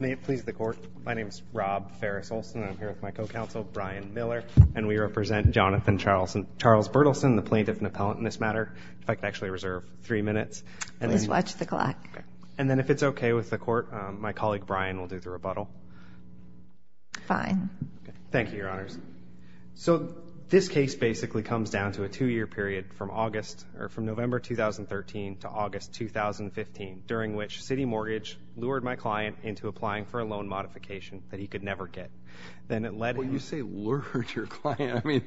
May it please the Court, my name is Rob Farris-Olson, and I'm here with my co-counsel, Brian Miller, and we represent Jonathan Charles Bertelsen, the plaintiff and appellant in this matter. If I could actually reserve three minutes. Please watch the clock. And then if it's okay with the Court, my colleague Brian will do the rebuttal. Fine. Thank you, Your Honors. So this case basically comes down to a two-year period from November 2013 to August 2015, during which CitiMortgage lured my client into applying for a loan modification that he could never get. Then it led him- When you say lured your client, I mean,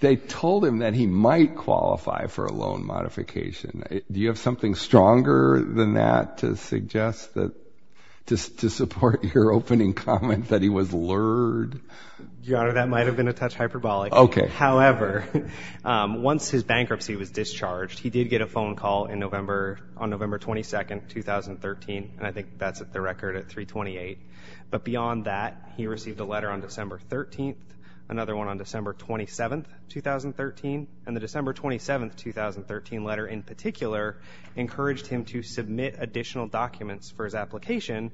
they told him that he might qualify for a loan modification. Do you have something stronger than that to suggest that, to support your opening comment that he was lured? Your Honor, that might have been a touch hyperbolic. Okay. However, once his bankruptcy was discharged, he did get a phone call on November 22nd, 2013, and I think that's the record at 328. But beyond that, he received a letter on December 13th, another one on December 27th, 2013, and the December 27th, 2013 letter in particular encouraged him to submit additional documents for his application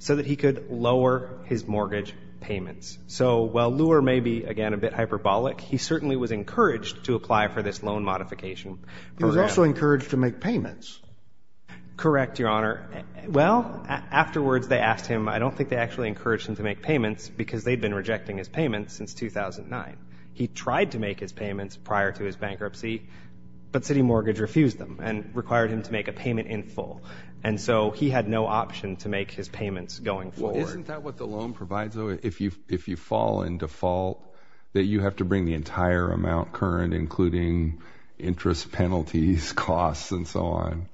so that he could lower his mortgage payments. So while lure may be, again, a bit hyperbolic, he certainly was encouraged to apply for this loan modification program. He was also encouraged to make payments. Correct, Your Honor. Well, afterwards they asked him. I don't think they actually encouraged him to make payments because they'd been rejecting his payments since 2009. He tried to make his payments prior to his bankruptcy, but CitiMortgage refused them and required him to make a payment in full. And so he had no option to make his payments going forward. Isn't that what the loan provides, though? If you fall in default, that you have to bring the entire amount current, including interest penalties, costs, and so on?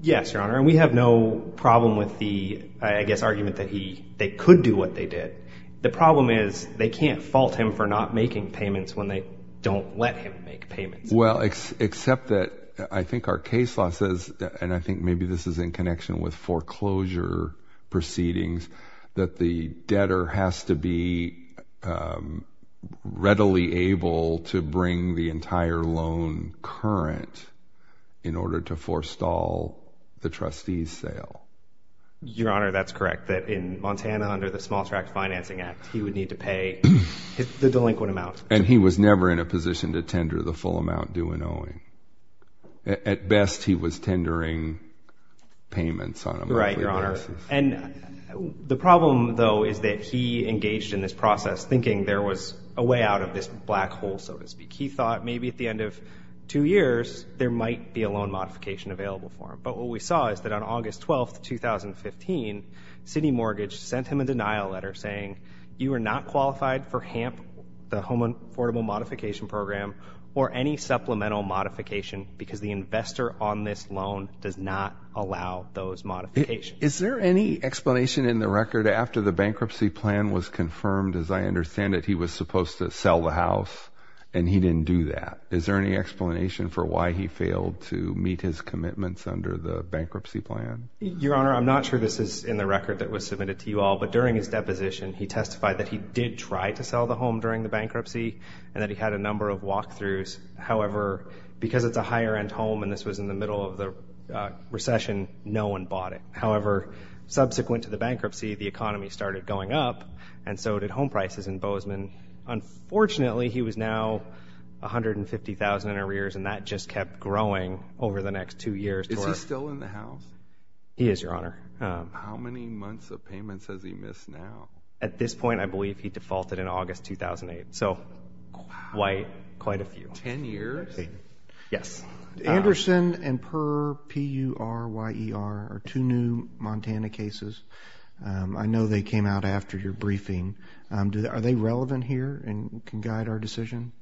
Yes, Your Honor, and we have no problem with the, I guess, argument that they could do what they did. The problem is they can't fault him for not making payments when they don't let him make payments. Well, except that I think our case law says, and I think maybe this is in connection with foreclosure proceedings, that the debtor has to be readily able to bring the entire loan current in order to forestall the trustee's sale. Your Honor, that's correct, that in Montana under the Small Tract Financing Act, he would need to pay the delinquent amount. And he was never in a position to tender the full amount due and owing. At best, he was tendering payments on a monthly basis. Right, Your Honor, and the problem, though, is that he engaged in this process thinking there was a way out of this black hole, so to speak. He thought maybe at the end of two years, there might be a loan modification available for him. But what we saw is that on August 12, 2015, CitiMortgage sent him a denial letter saying, you are not qualified for HAMP, the Home Affordable Modification Program, or any supplemental modification because the investor on this loan does not allow those modifications. Is there any explanation in the record after the bankruptcy plan was confirmed, as I understand it, he was supposed to sell the house and he didn't do that? Is there any explanation for why he failed to meet his commitments under the bankruptcy plan? Your Honor, I'm not sure this is in the record that was submitted to you all, but during his deposition, he testified that he did try to sell the home during the bankruptcy and that he had a number of walk-throughs. However, because it's a higher-end home and this was in the middle of the recession, no one bought it. However, subsequent to the bankruptcy, the economy started going up, and so did home prices in Bozeman. Unfortunately, he was now $150,000 in arrears, and that just kept growing over the next two years. Is he still in the house? He is, Your Honor. How many months of payments has he missed now? At this point, I believe he defaulted in August 2008, so quite a few. Ten years? Yes. Anderson and Purr, P-U-R-Y-E-R, are two new Montana cases. I know they came out after your briefing. Are they relevant here and can guide our decision?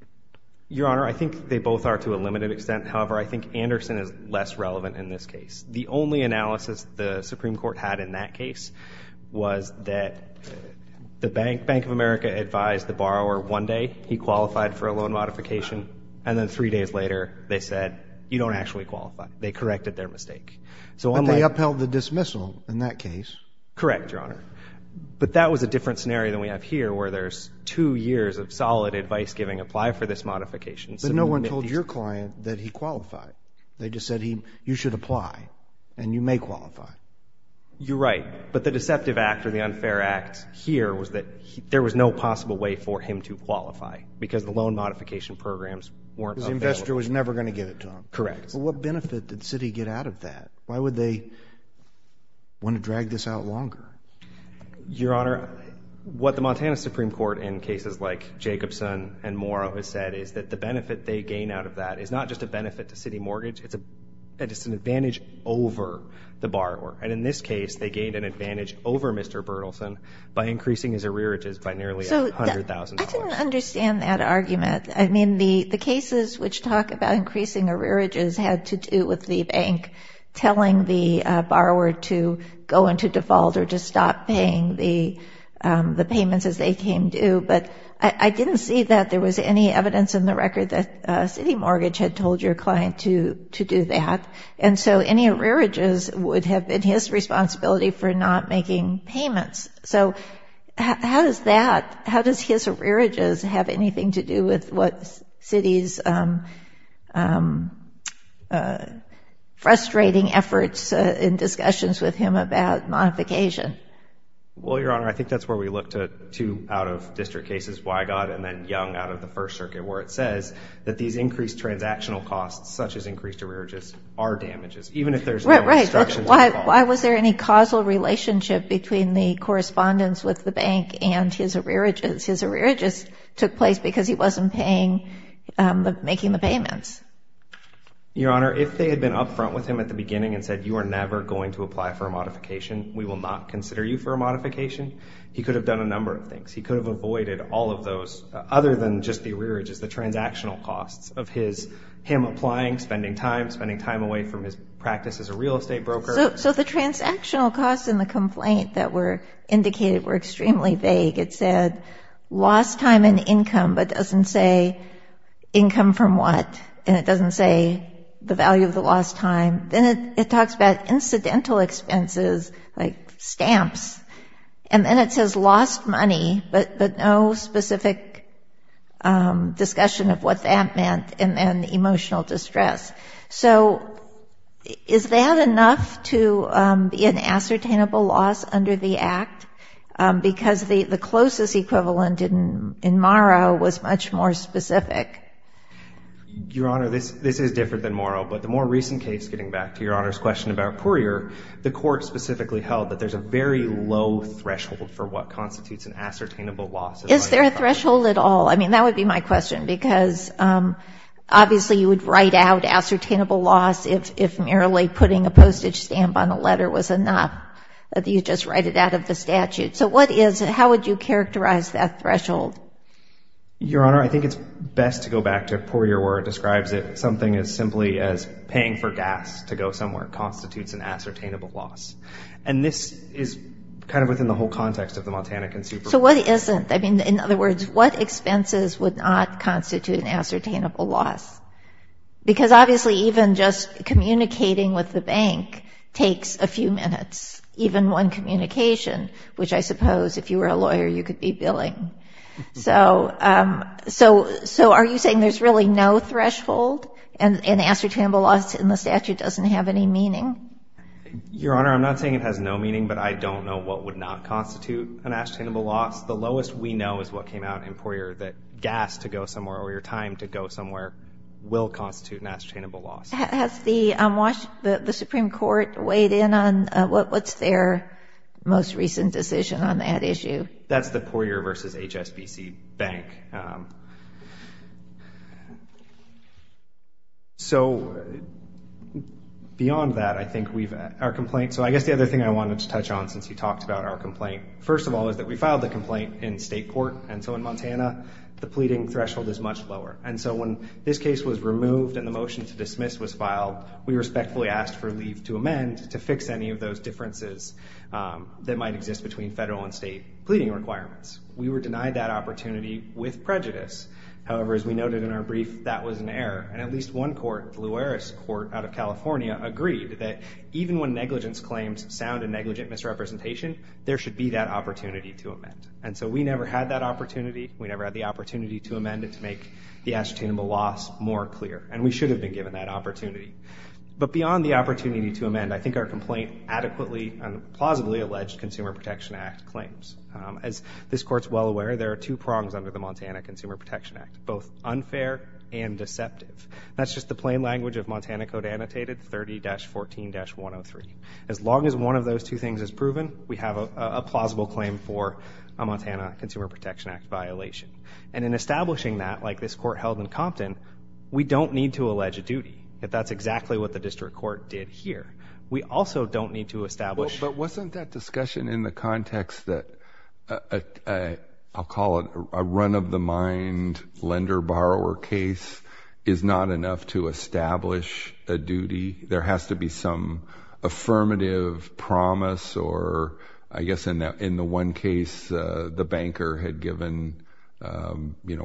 Your Honor, I think they both are to a limited extent. However, I think Anderson is less relevant in this case. The only analysis the Supreme Court had in that case was that the Bank of America advised the borrower one day he qualified for a loan modification, and then three days later they said, you don't actually qualify. They corrected their mistake. But they upheld the dismissal in that case. Correct, Your Honor. But that was a different scenario than we have here where there's two years of solid advice-giving, apply for this modification. But no one told your client that he qualified. They just said, you should apply and you may qualify. You're right. But the deceptive act or the unfair act here was that there was no possible way for him to qualify because the loan modification programs weren't available. Because the investor was never going to give it to him. Correct. Well, what benefit did Citi get out of that? Why would they want to drag this out longer? Your Honor, what the Montana Supreme Court in cases like Jacobson and Morrow has said is that the benefit they gain out of that is not just a benefit to Citi Mortgage, it's an advantage over the borrower. And in this case, they gained an advantage over Mr. Berthelsen by increasing his arrearages by nearly $100,000. I didn't understand that argument. I mean, the cases which talk about increasing arrearages had to do with the bank telling the borrower to go into default or to stop paying the payments as they came due. But I didn't see that there was any evidence in the record that Citi Mortgage had told your client to do that. And so any arrearages would have been his responsibility for not making payments. So how does that, how does his arrearages have anything to do with what Citi's frustrating efforts in discussions with him about modification? Well, Your Honor, I think that's where we look to two out-of-district cases, Weigott and then Young out of the First Circuit, where it says that these increased transactional costs, such as increased arrearages, are damages, even if there's no obstructions involved. But why was there any causal relationship between the correspondence with the bank and his arrearages? His arrearages took place because he wasn't making the payments. Your Honor, if they had been upfront with him at the beginning and said, you are never going to apply for a modification, we will not consider you for a modification, he could have done a number of things. He could have avoided all of those, other than just the arrearages, the transactional costs of him applying, spending time, away from his practice as a real estate broker. So the transactional costs in the complaint that were indicated were extremely vague. It said lost time and income, but doesn't say income from what, and it doesn't say the value of the lost time. Then it talks about incidental expenses, like stamps, and then it says lost money, but no specific discussion of what that meant, and then emotional distress. So is that enough to be an ascertainable loss under the Act? Because the closest equivalent in Morrow was much more specific. Your Honor, this is different than Morrow, but the more recent case, getting back to Your Honor's question about Poirier, the court specifically held that there's a very low threshold for what constitutes an ascertainable loss. Is there a threshold at all? I mean, that would be my question, because obviously you would write out ascertainable loss if merely putting a postage stamp on a letter was enough. You'd just write it out of the statute. So what is it? How would you characterize that threshold? Your Honor, I think it's best to go back to Poirier, where it describes it, something as simply as paying for gas to go somewhere constitutes an ascertainable loss. And this is kind of within the whole context of the Multanican Superbook. So what isn't? I mean, in other words, what expenses would not constitute an ascertainable loss? Because obviously even just communicating with the bank takes a few minutes, even one communication, which I suppose if you were a lawyer you could be billing. So are you saying there's really no threshold and ascertainable loss in the statute doesn't have any meaning? Your Honor, I'm not saying it has no meaning, but I don't know what would not constitute an ascertainable loss. The lowest we know is what came out in Poirier, that gas to go somewhere or your time to go somewhere will constitute an ascertainable loss. Has the Supreme Court weighed in on what's their most recent decision on that issue? That's the Poirier v. HSBC bank. So beyond that, I think our complaint, so I guess the other thing I wanted to touch on since you talked about our complaint, first of all is that we filed the complaint in state court. And so in Montana, the pleading threshold is much lower. And so when this case was removed and the motion to dismiss was filed, we respectfully asked for leave to amend to fix any of those differences that might exist between federal and state pleading requirements. We were denied that opportunity with prejudice. However, as we noted in our brief, that was an error. And at least one court, the Luares Court out of California, agreed that even when negligence claims sound and negligent misrepresentation, there should be that opportunity to amend. And so we never had that opportunity. We never had the opportunity to amend it to make the ascertainable loss more clear. And we should have been given that opportunity. But beyond the opportunity to amend, I think our complaint adequately and plausibly alleged Consumer Protection Act claims. As this Court is well aware, there are two prongs under the Montana Consumer Protection Act, both unfair and deceptive. That's just the plain language of Montana Code Annotated 30-14-103. As long as one of those two things is proven, we have a plausible claim for a Montana Consumer Protection Act violation. And in establishing that, like this court held in Compton, we don't need to allege a duty if that's exactly what the district court did here. We also don't need to establish. But wasn't that discussion in the context that, I'll call it, a run-of-the-mind lender-borrower case is not enough to establish a duty? There has to be some affirmative promise or, I guess, in the one case, the banker had given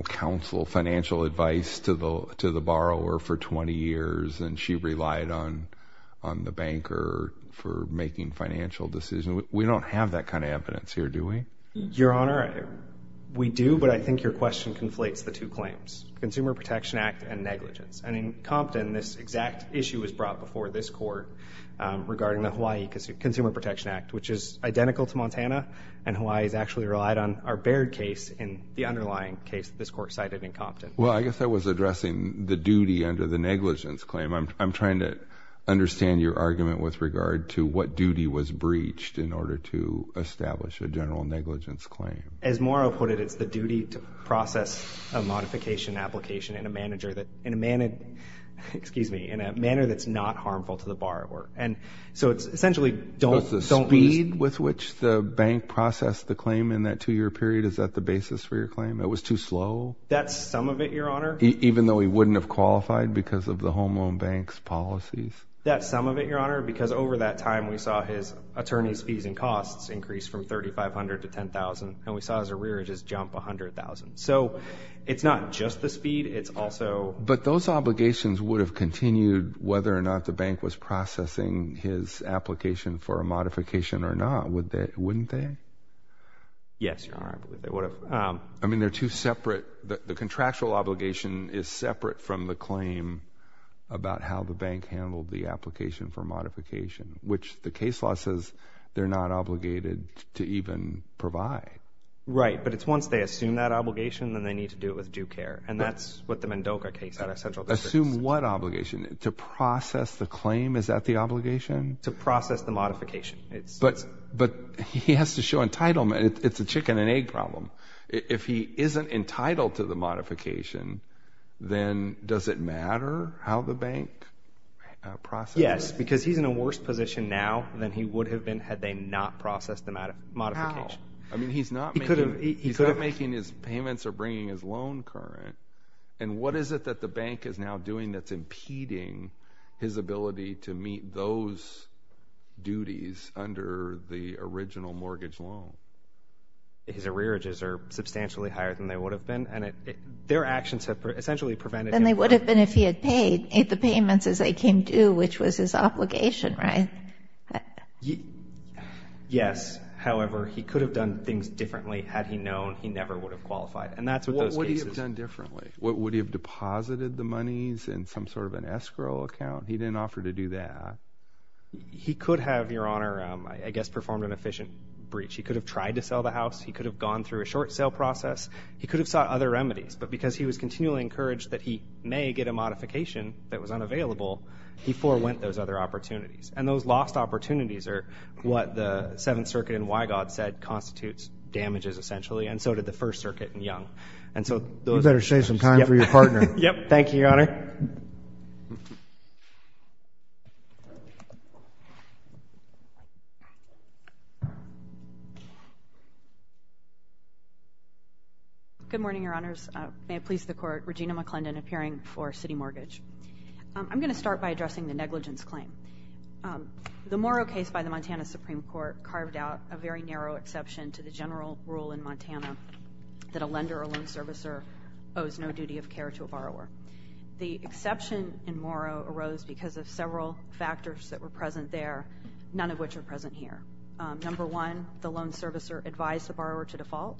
counsel financial advice to the borrower for 20 years and she relied on the banker for making financial decisions. We don't have that kind of evidence here, do we? Your Honor, we do, but I think your question conflates the two claims, Consumer Protection Act and negligence. And in Compton, this exact issue was brought before this court regarding the Hawaii Consumer Protection Act, which is identical to Montana, and Hawaii has actually relied on our Baird case in the underlying case that this court cited in Compton. Well, I guess I was addressing the duty under the negligence claim. I'm trying to understand your argument with regard to what duty was breached in order to establish a general negligence claim. As Morrow put it, it's the duty to process a modification application in a manner that's not harmful to the borrower. So it's essentially don't lose. But the speed with which the bank processed the claim in that two-year period, is that the basis for your claim? It was too slow? That's some of it, your Honor. Even though he wouldn't have qualified because of the home loan bank's policies? That's some of it, your Honor, because over that time we saw his attorney's fees and costs increase from $3,500 to $10,000 and we saw his arrearages jump $100,000. So it's not just the speed, it's also— But those obligations would have continued whether or not the bank was processing his application for a modification or not, wouldn't they? Yes, your Honor, they would have. I mean, they're two separate—the contractual obligation is separate from the claim about how the bank handled the application for modification, which the case law says they're not obligated to even provide. Right, but it's once they assume that obligation, then they need to do it with due care. And that's what the Mendoca case out of Central District— Assume what obligation? To process the claim? Is that the obligation? To process the modification. But he has to show entitlement. It's a chicken and egg problem. If he isn't entitled to the modification, then does it matter how the bank processed it? Yes, because he's in a worse position now than he would have been had they not processed the modification. Wow. I mean, he's not making his payments or bringing his loan current. And what is it that the bank is now doing that's impeding his ability to meet those duties under the original mortgage loan? His arrearages are substantially higher than they would have been, and their actions have essentially prevented him from— Than they would have been if he had paid the payments as they came due, which was his obligation, right? Yes. However, he could have done things differently had he known he never would have qualified. And that's what those cases— What would he have done differently? Would he have deposited the monies in some sort of an escrow account? He didn't offer to do that. He could have, Your Honor, I guess performed an efficient breach. He could have tried to sell the house. He could have gone through a short sale process. He could have sought other remedies. But because he was continually encouraged that he may get a modification that was unavailable, he forewent those other opportunities. And those lost opportunities are what the Seventh Circuit in Wygod said constitutes damages, essentially, and so did the First Circuit in Young. You better save some time for your partner. Yep. Thank you, Your Honor. Good morning, Your Honors. May it please the Court. Regina McClendon, appearing for City Mortgage. I'm going to start by addressing the negligence claim. The Morrow case by the Montana Supreme Court carved out a very narrow exception to the general rule in Montana that a lender or a loan servicer owes no duty of care to a borrower. The exception in Morrow arose because of several factors that were present there, none of which are present here. Number one, the loan servicer advised the borrower to default.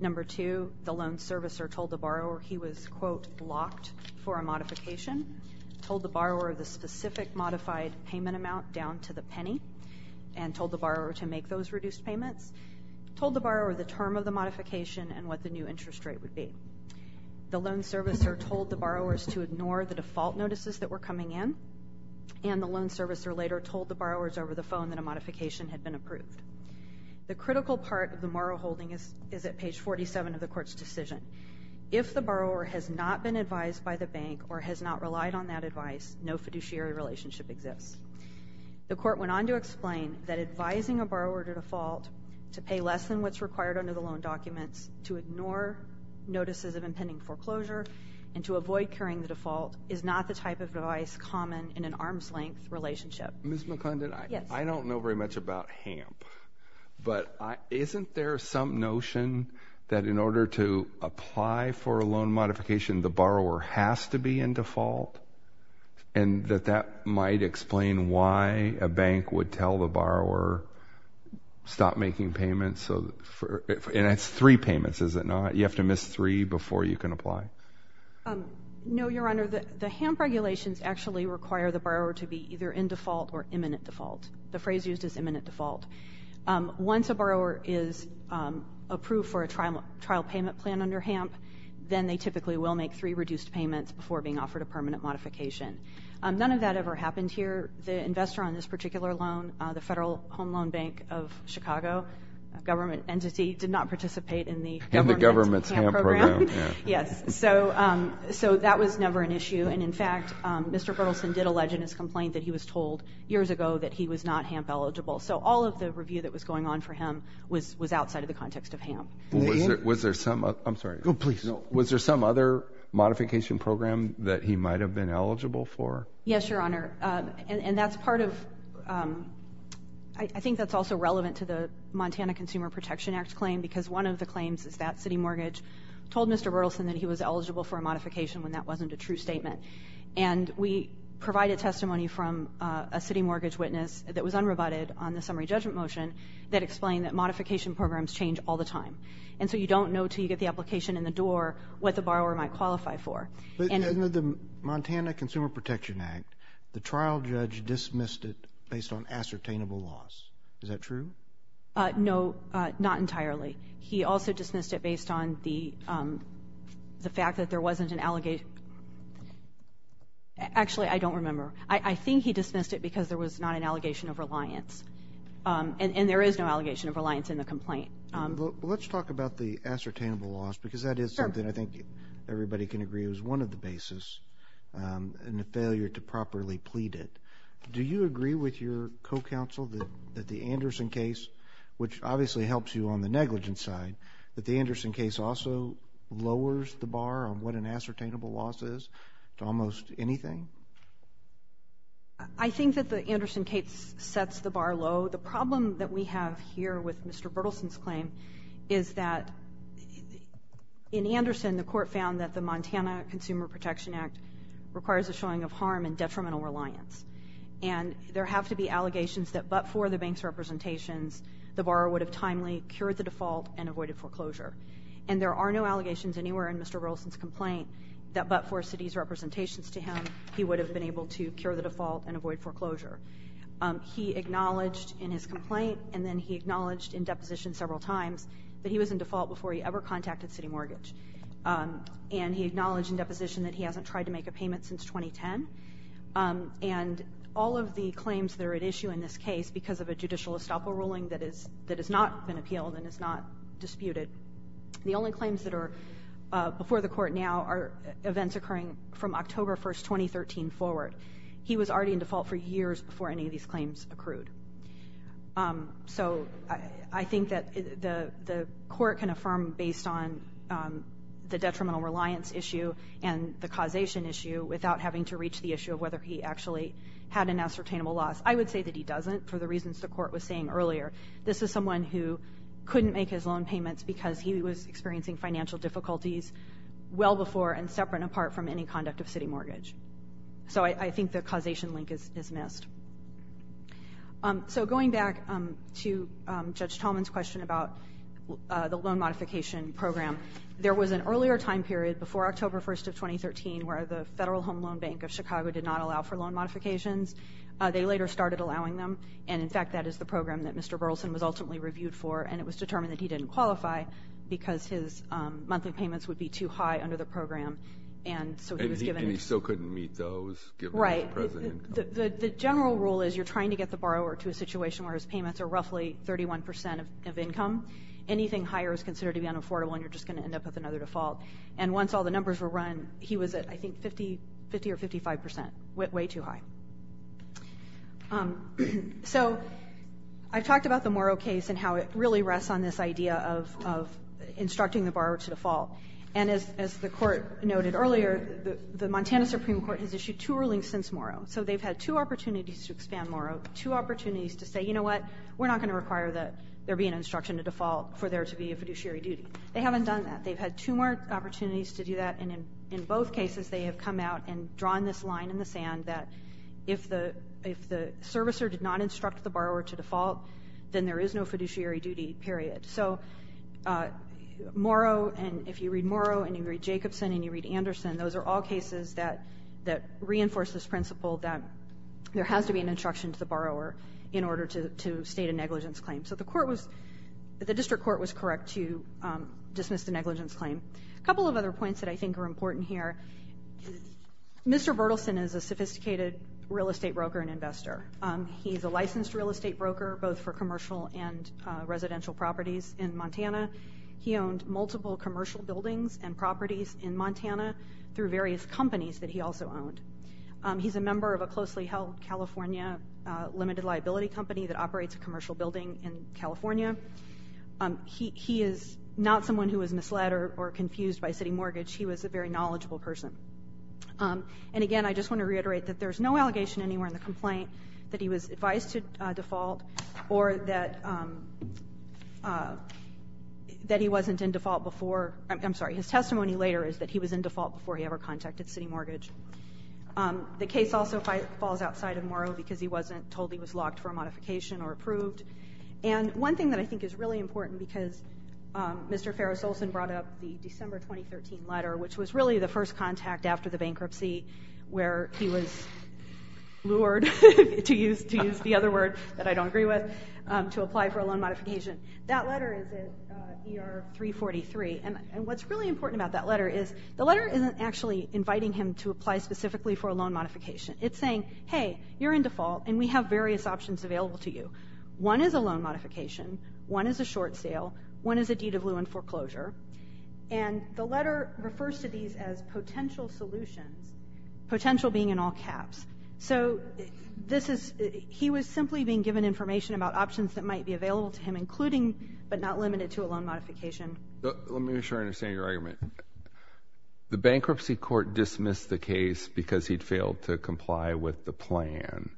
Number two, the loan servicer told the borrower he was, quote, locked for a modification, told the borrower the specific modified payment amount down to the penny, and told the borrower to make those reduced payments, told the borrower the term of the modification and what the new interest rate would be. The loan servicer told the borrowers to ignore the default notices that were coming in, and the loan servicer later told the borrowers over the phone that a modification had been approved. The critical part of the Morrow holding is at page 47 of the Court's decision. If the borrower has not been advised by the bank or has not relied on that advice, no fiduciary relationship exists. The Court went on to explain that advising a borrower to default to pay less than what's required under the loan documents, to ignore notices of impending foreclosure, and to avoid carrying the default is not the type of device common in an arm's-length relationship. But isn't there some notion that in order to apply for a loan modification, the borrower has to be in default, and that that might explain why a bank would tell the borrower, stop making payments, and it's three payments, is it not? You have to miss three before you can apply. No, Your Honor. The HAMP regulations actually require the borrower to be either in default or imminent default. The phrase used is imminent default. Once a borrower is approved for a trial payment plan under HAMP, then they typically will make three reduced payments before being offered a permanent modification. None of that ever happened here. The investor on this particular loan, the Federal Home Loan Bank of Chicago, a government entity, did not participate in the HAMP program. In the government's HAMP program. Yes, so that was never an issue. And, in fact, Mr. Berthelsen did allege in his complaint that he was told years ago that he was not HAMP eligible. So all of the review that was going on for him was outside of the context of HAMP. Was there some other modification program that he might have been eligible for? Yes, Your Honor, and that's part of, I think that's also relevant to the Montana Consumer Protection Act claim because one of the claims is that City Mortgage told Mr. Berthelsen that he was eligible for a modification when that wasn't a true statement. And we provided testimony from a City Mortgage witness that was unrebutted on the summary judgment motion that explained that modification programs change all the time. And so you don't know until you get the application in the door what the borrower might qualify for. But in the Montana Consumer Protection Act, the trial judge dismissed it based on ascertainable loss. Is that true? No, not entirely. He also dismissed it based on the fact that there wasn't an allegation. Actually, I don't remember. I think he dismissed it because there was not an allegation of reliance. And there is no allegation of reliance in the complaint. Well, let's talk about the ascertainable loss because that is something I think everybody can agree is one of the bases in the failure to properly plead it. Do you agree with your co-counsel that the Anderson case, which obviously helps you on the negligence side, that the Anderson case also lowers the bar on what an ascertainable loss is to almost anything? I think that the Anderson case sets the bar low. The problem that we have here with Mr. Berthelsen's claim is that in Anderson, the court found that the Montana Consumer Protection Act requires a showing of harm and detrimental reliance. And there have to be allegations that but for the bank's representations, the borrower would have timely cured the default and avoided foreclosure. And there are no allegations anywhere in Mr. Berthelsen's complaint that but for Citi's representations to him, he would have been able to cure the default and avoid foreclosure. He acknowledged in his complaint and then he acknowledged in deposition several times that he was in default before he ever contacted Citi Mortgage. And he acknowledged in deposition that he hasn't tried to make a payment since 2010. And all of the claims that are at issue in this case because of a judicial estoppel ruling that has not been appealed and is not disputed, the only claims that are before the court now are events occurring from October 1, 2013 forward. He was already in default for years before any of these claims accrued. So I think that the court can affirm based on the detrimental reliance issue and the causation issue without having to reach the issue of whether he actually had an ascertainable loss. I would say that he doesn't for the reasons the court was saying earlier. This is someone who couldn't make his loan payments because he was experiencing financial difficulties well before and separate and apart from any conduct of Citi Mortgage. So I think the causation link is missed. So going back to Judge Tolman's question about the loan modification program, there was an earlier time period before October 1, 2013 where the Federal Home Loan Bank of Chicago did not allow for loan modifications. They later started allowing them. And, in fact, that is the program that Mr. Burleson was ultimately reviewed for, and it was determined that he didn't qualify because his monthly payments would be too high under the program. And he still couldn't meet those given his present income? Right. The general rule is you're trying to get the borrower to a situation where his payments are roughly 31 percent of income. Anything higher is considered to be unaffordable, and you're just going to end up with another default. And once all the numbers were run, he was at, I think, 50 or 55 percent, way too high. So I've talked about the Morrow case and how it really rests on this idea of instructing the borrower to default. And as the Court noted earlier, the Montana Supreme Court has issued two rulings since Morrow. So they've had two opportunities to expand Morrow, two opportunities to say, you know what, we're not going to require that there be an instruction to default for there to be a fiduciary duty. They haven't done that. They've had two more opportunities to do that, and in both cases they have come out and drawn this line in the sand that if the servicer did not instruct the borrower to default, then there is no fiduciary duty, period. So Morrow, and if you read Morrow and you read Jacobson and you read Anderson, those are all cases that reinforce this principle that there has to be an instruction to the borrower in order to state a negligence claim. So the District Court was correct to dismiss the negligence claim. A couple of other points that I think are important here. Mr. Bertelsen is a sophisticated real estate broker and investor. He's a licensed real estate broker both for commercial and residential properties in Montana. He owned multiple commercial buildings and properties in Montana through various companies that he also owned. He's a member of a closely held California limited liability company that operates a commercial building in California. He is not someone who was misled or confused by city mortgage. He was a very knowledgeable person. And again, I just want to reiterate that there is no allegation anywhere in the complaint that he was advised to default or that he wasn't in default before. I'm sorry, his testimony later is that he was in default before he ever contacted city mortgage. The case also falls outside of Morrow because he wasn't told he was locked for a modification or approved. And one thing that I think is really important because Mr. Farris Olson brought up the December 2013 letter, which was really the first contact after the bankruptcy where he was lured, to use the other word that I don't agree with, to apply for a loan modification. That letter is ER 343. And what's really important about that letter is the letter isn't actually inviting him to apply specifically for a loan modification. It's saying, hey, you're in default and we have various options available to you. One is a loan modification. One is a short sale. One is a deed of lieu and foreclosure. And the letter refers to these as potential solutions, potential being in all caps. So he was simply being given information about options that might be available to him, including but not limited to a loan modification. Let me make sure I understand your argument. The bankruptcy court dismissed the case because he'd failed to comply with the plan.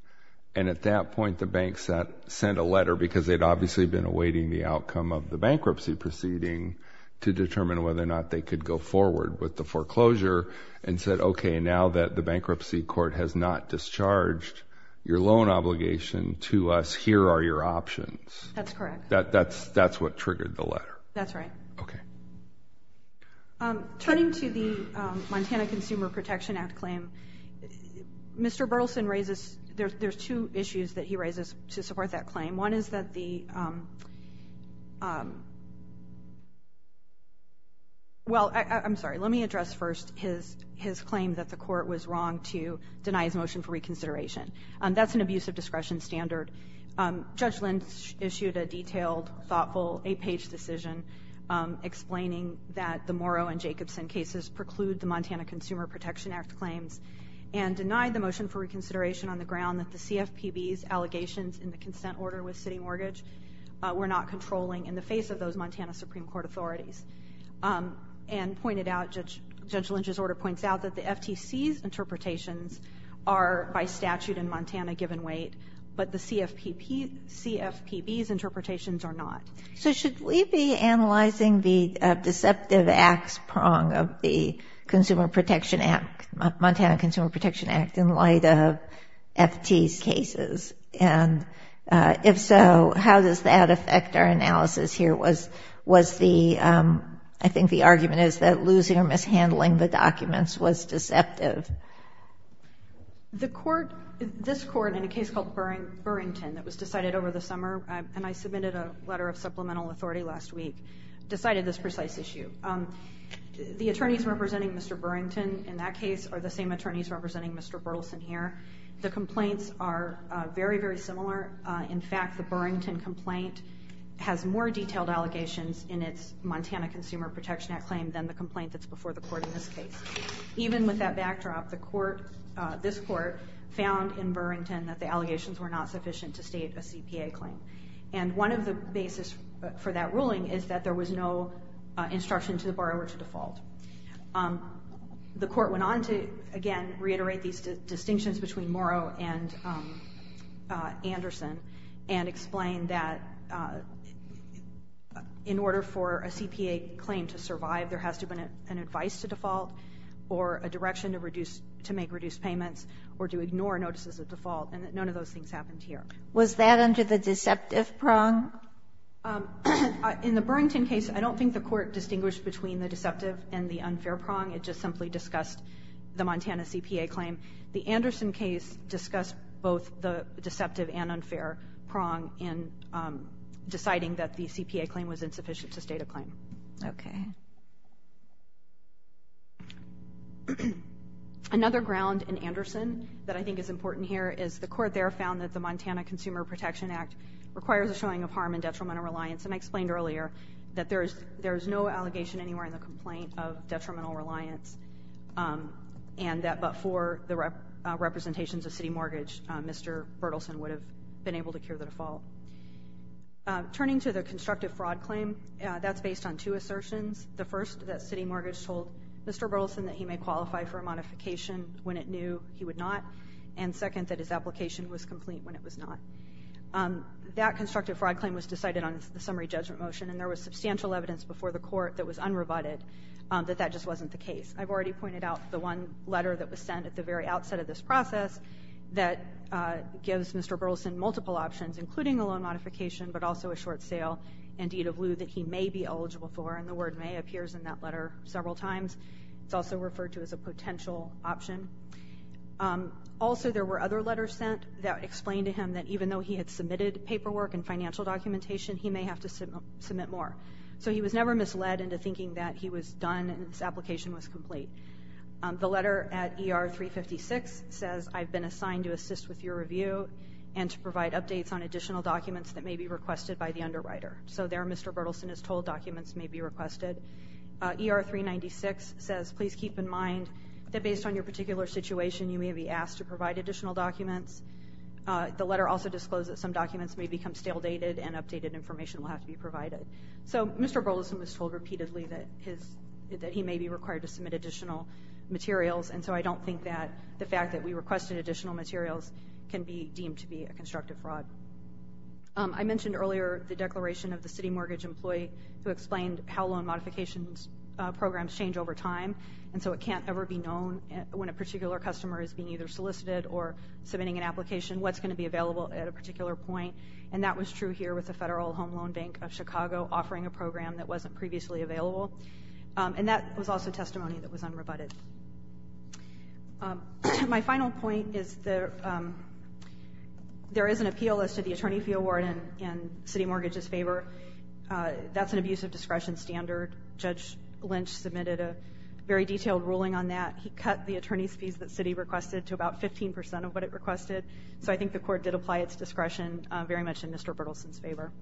And at that point the bank sent a letter because they'd obviously been awaiting the outcome of the bankruptcy proceeding to determine whether or not they could go forward with the foreclosure and said, okay, now that the bankruptcy court has not discharged your loan obligation to us, here are your options. That's correct. That's what triggered the letter. That's right. Okay. Turning to the Montana Consumer Protection Act claim, Mr. Berthelsen raises, there's two issues that he raises to support that claim. One is that the, well, I'm sorry, let me address first his claim that the court was wrong to deny his motion for reconsideration. That's an abuse of discretion standard. Judge Lynch issued a detailed, thoughtful, 8-page decision explaining that the Morrow and Jacobson cases preclude the Montana Consumer Protection Act claims and denied the motion for reconsideration on the ground that the CFPB's allegations in the consent order with City Mortgage were not controlling in the face of those Montana Supreme Court authorities. And pointed out, Judge Lynch's order points out that the FTC's interpretations are by statute in Montana given weight, but the CFPB's interpretations are not. So should we be analyzing the deceptive acts prong of the Montana Consumer Protection Act in light of FT's cases? And if so, how does that affect our analysis here? Was the, I think the argument is that losing or mishandling the documents was deceptive. The court, this court in a case called Burrington that was decided over the summer, and I submitted a letter of supplemental authority last week, decided this precise issue. The attorneys representing Mr. Burrington in that case are the same attorneys representing Mr. Berthelsen here. The complaints are very, very similar. In fact, the Burrington complaint has more detailed allegations in its Montana Consumer Protection Act claim than the complaint that's before the court in this case. Even with that backdrop, the court, this court, found in Burrington that the allegations were not sufficient to state a CPA claim. And one of the basis for that ruling is that there was no instruction to the borrower to default. The court went on to, again, reiterate these distinctions between Morrow and Anderson and explain that in order for a CPA claim to survive, there has to have been an advice to default or a direction to reduce, to make reduced payments or to ignore notices of default. And none of those things happened here. Was that under the deceptive prong? In the Burrington case, I don't think the court distinguished between the deceptive and the unfair prong. It just simply discussed the Montana CPA claim. The Anderson case discussed both the deceptive and unfair prong in deciding that the CPA claim was insufficient to state a claim. Okay. Another ground in Anderson that I think is important here is the court there found that the Montana Consumer Protection Act requires a showing of harm and detrimental reliance, and I explained earlier that there is no allegation anywhere in the complaint of detrimental reliance, and that but for the representations of city mortgage, Mr. Bertelsen would have been able to cure the default. Turning to the constructive fraud claim, that's based on two assertions. The first, that city mortgage told Mr. Bertelsen that he may qualify for a modification when it knew he would not, and second, that his application was complete when it was not. That constructive fraud claim was decided on the summary judgment motion, and there was substantial evidence before the court that was unrebutted that that just wasn't the case. I've already pointed out the one letter that was sent at the very outset of this process that gives Mr. Bertelsen multiple options, including a loan modification but also a short sale and DW that he may be eligible for, and the word may appears in that letter several times. It's also referred to as a potential option. Also, there were other letters sent that explained to him that even though he had submitted paperwork and financial documentation, he may have to submit more. So he was never misled into thinking that he was done and his application was complete. The letter at ER 356 says, I've been assigned to assist with your review and to provide updates on additional documents that may be requested by the underwriter. So there, Mr. Bertelsen is told documents may be requested. ER 396 says, please keep in mind that based on your particular situation, you may be asked to provide additional documents. The letter also discloses some documents may become stale dated and updated information will have to be provided. So Mr. Bertelsen was told repeatedly that he may be required to submit additional materials, and so I don't think that the fact that we requested additional materials can be deemed to be a constructive fraud. I mentioned earlier the declaration of the city mortgage employee who explained how loan modifications programs change over time, and so it can't ever be known when a particular customer is being either solicited or submitting an application what's going to be available at a particular point, and that was true here with the Federal Home Loan Bank of Chicago offering a program that wasn't previously available, and that was also testimony that was unrebutted. My final point is there is an appeal as to the attorney fee award in city mortgages' favor. That's an abuse of discretion standard. Judge Lynch submitted a very detailed ruling on that. He cut the attorney's fees that city requested to about 15% of what it requested, so I think the court did apply its discretion very much in Mr. Bertelsen's favor.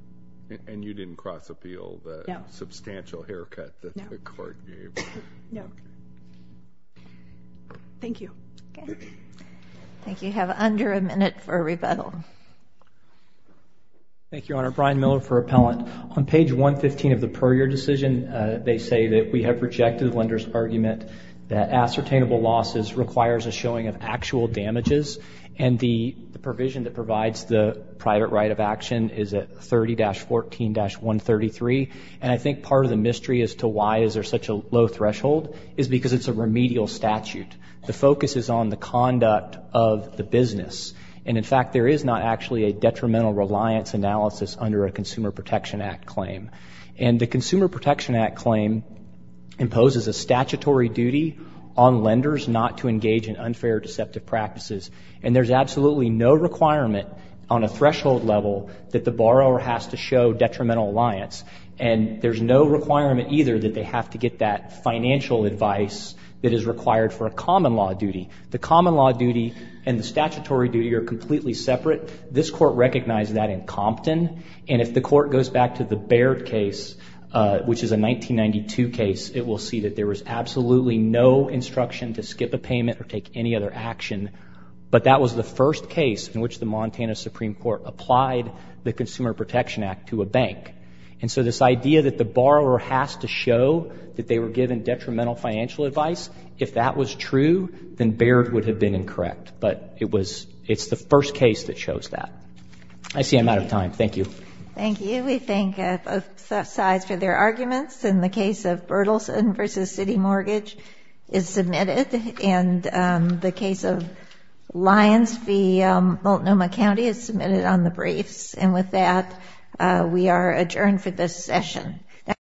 And you didn't cross-appeal the substantial haircut that the court gave? No. Thank you. I think you have under a minute for rebuttal. Thank you, Your Honor. Brian Miller for Appellant. On page 115 of the per-year decision, they say that we have rejected the lender's argument that ascertainable losses requires a showing of actual damages, and the provision that provides the private right of action is at 30-14-133, and I think part of the mystery as to why is there such a low threshold is because it's a remedial statute. The focus is on the conduct of the business, and in fact there is not actually a detrimental reliance analysis under a Consumer Protection Act claim. And the Consumer Protection Act claim imposes a statutory duty on lenders not to engage in unfair or deceptive practices, and there's absolutely no requirement on a threshold level that the borrower has to show detrimental reliance, and there's no requirement either that they have to get that financial advice that is required for a common law duty. The common law duty and the statutory duty are completely separate. This Court recognized that in Compton, and if the Court goes back to the Baird case, which is a 1992 case, it will see that there was absolutely no instruction to skip a payment or take any other action, but that was the first case in which the Montana Supreme Court applied the Consumer Protection Act to a bank. And so this idea that the borrower has to show that they were given detrimental financial advice, if that was true, then Baird would have been incorrect. But it's the first case that shows that. I see I'm out of time. Thank you. Thank you. We thank both sides for their arguments. In the case of Berthelsen v. City Mortgage is submitted, and the case of Lyons v. Multnomah County is submitted on the briefs. And with that, we are adjourned for this session.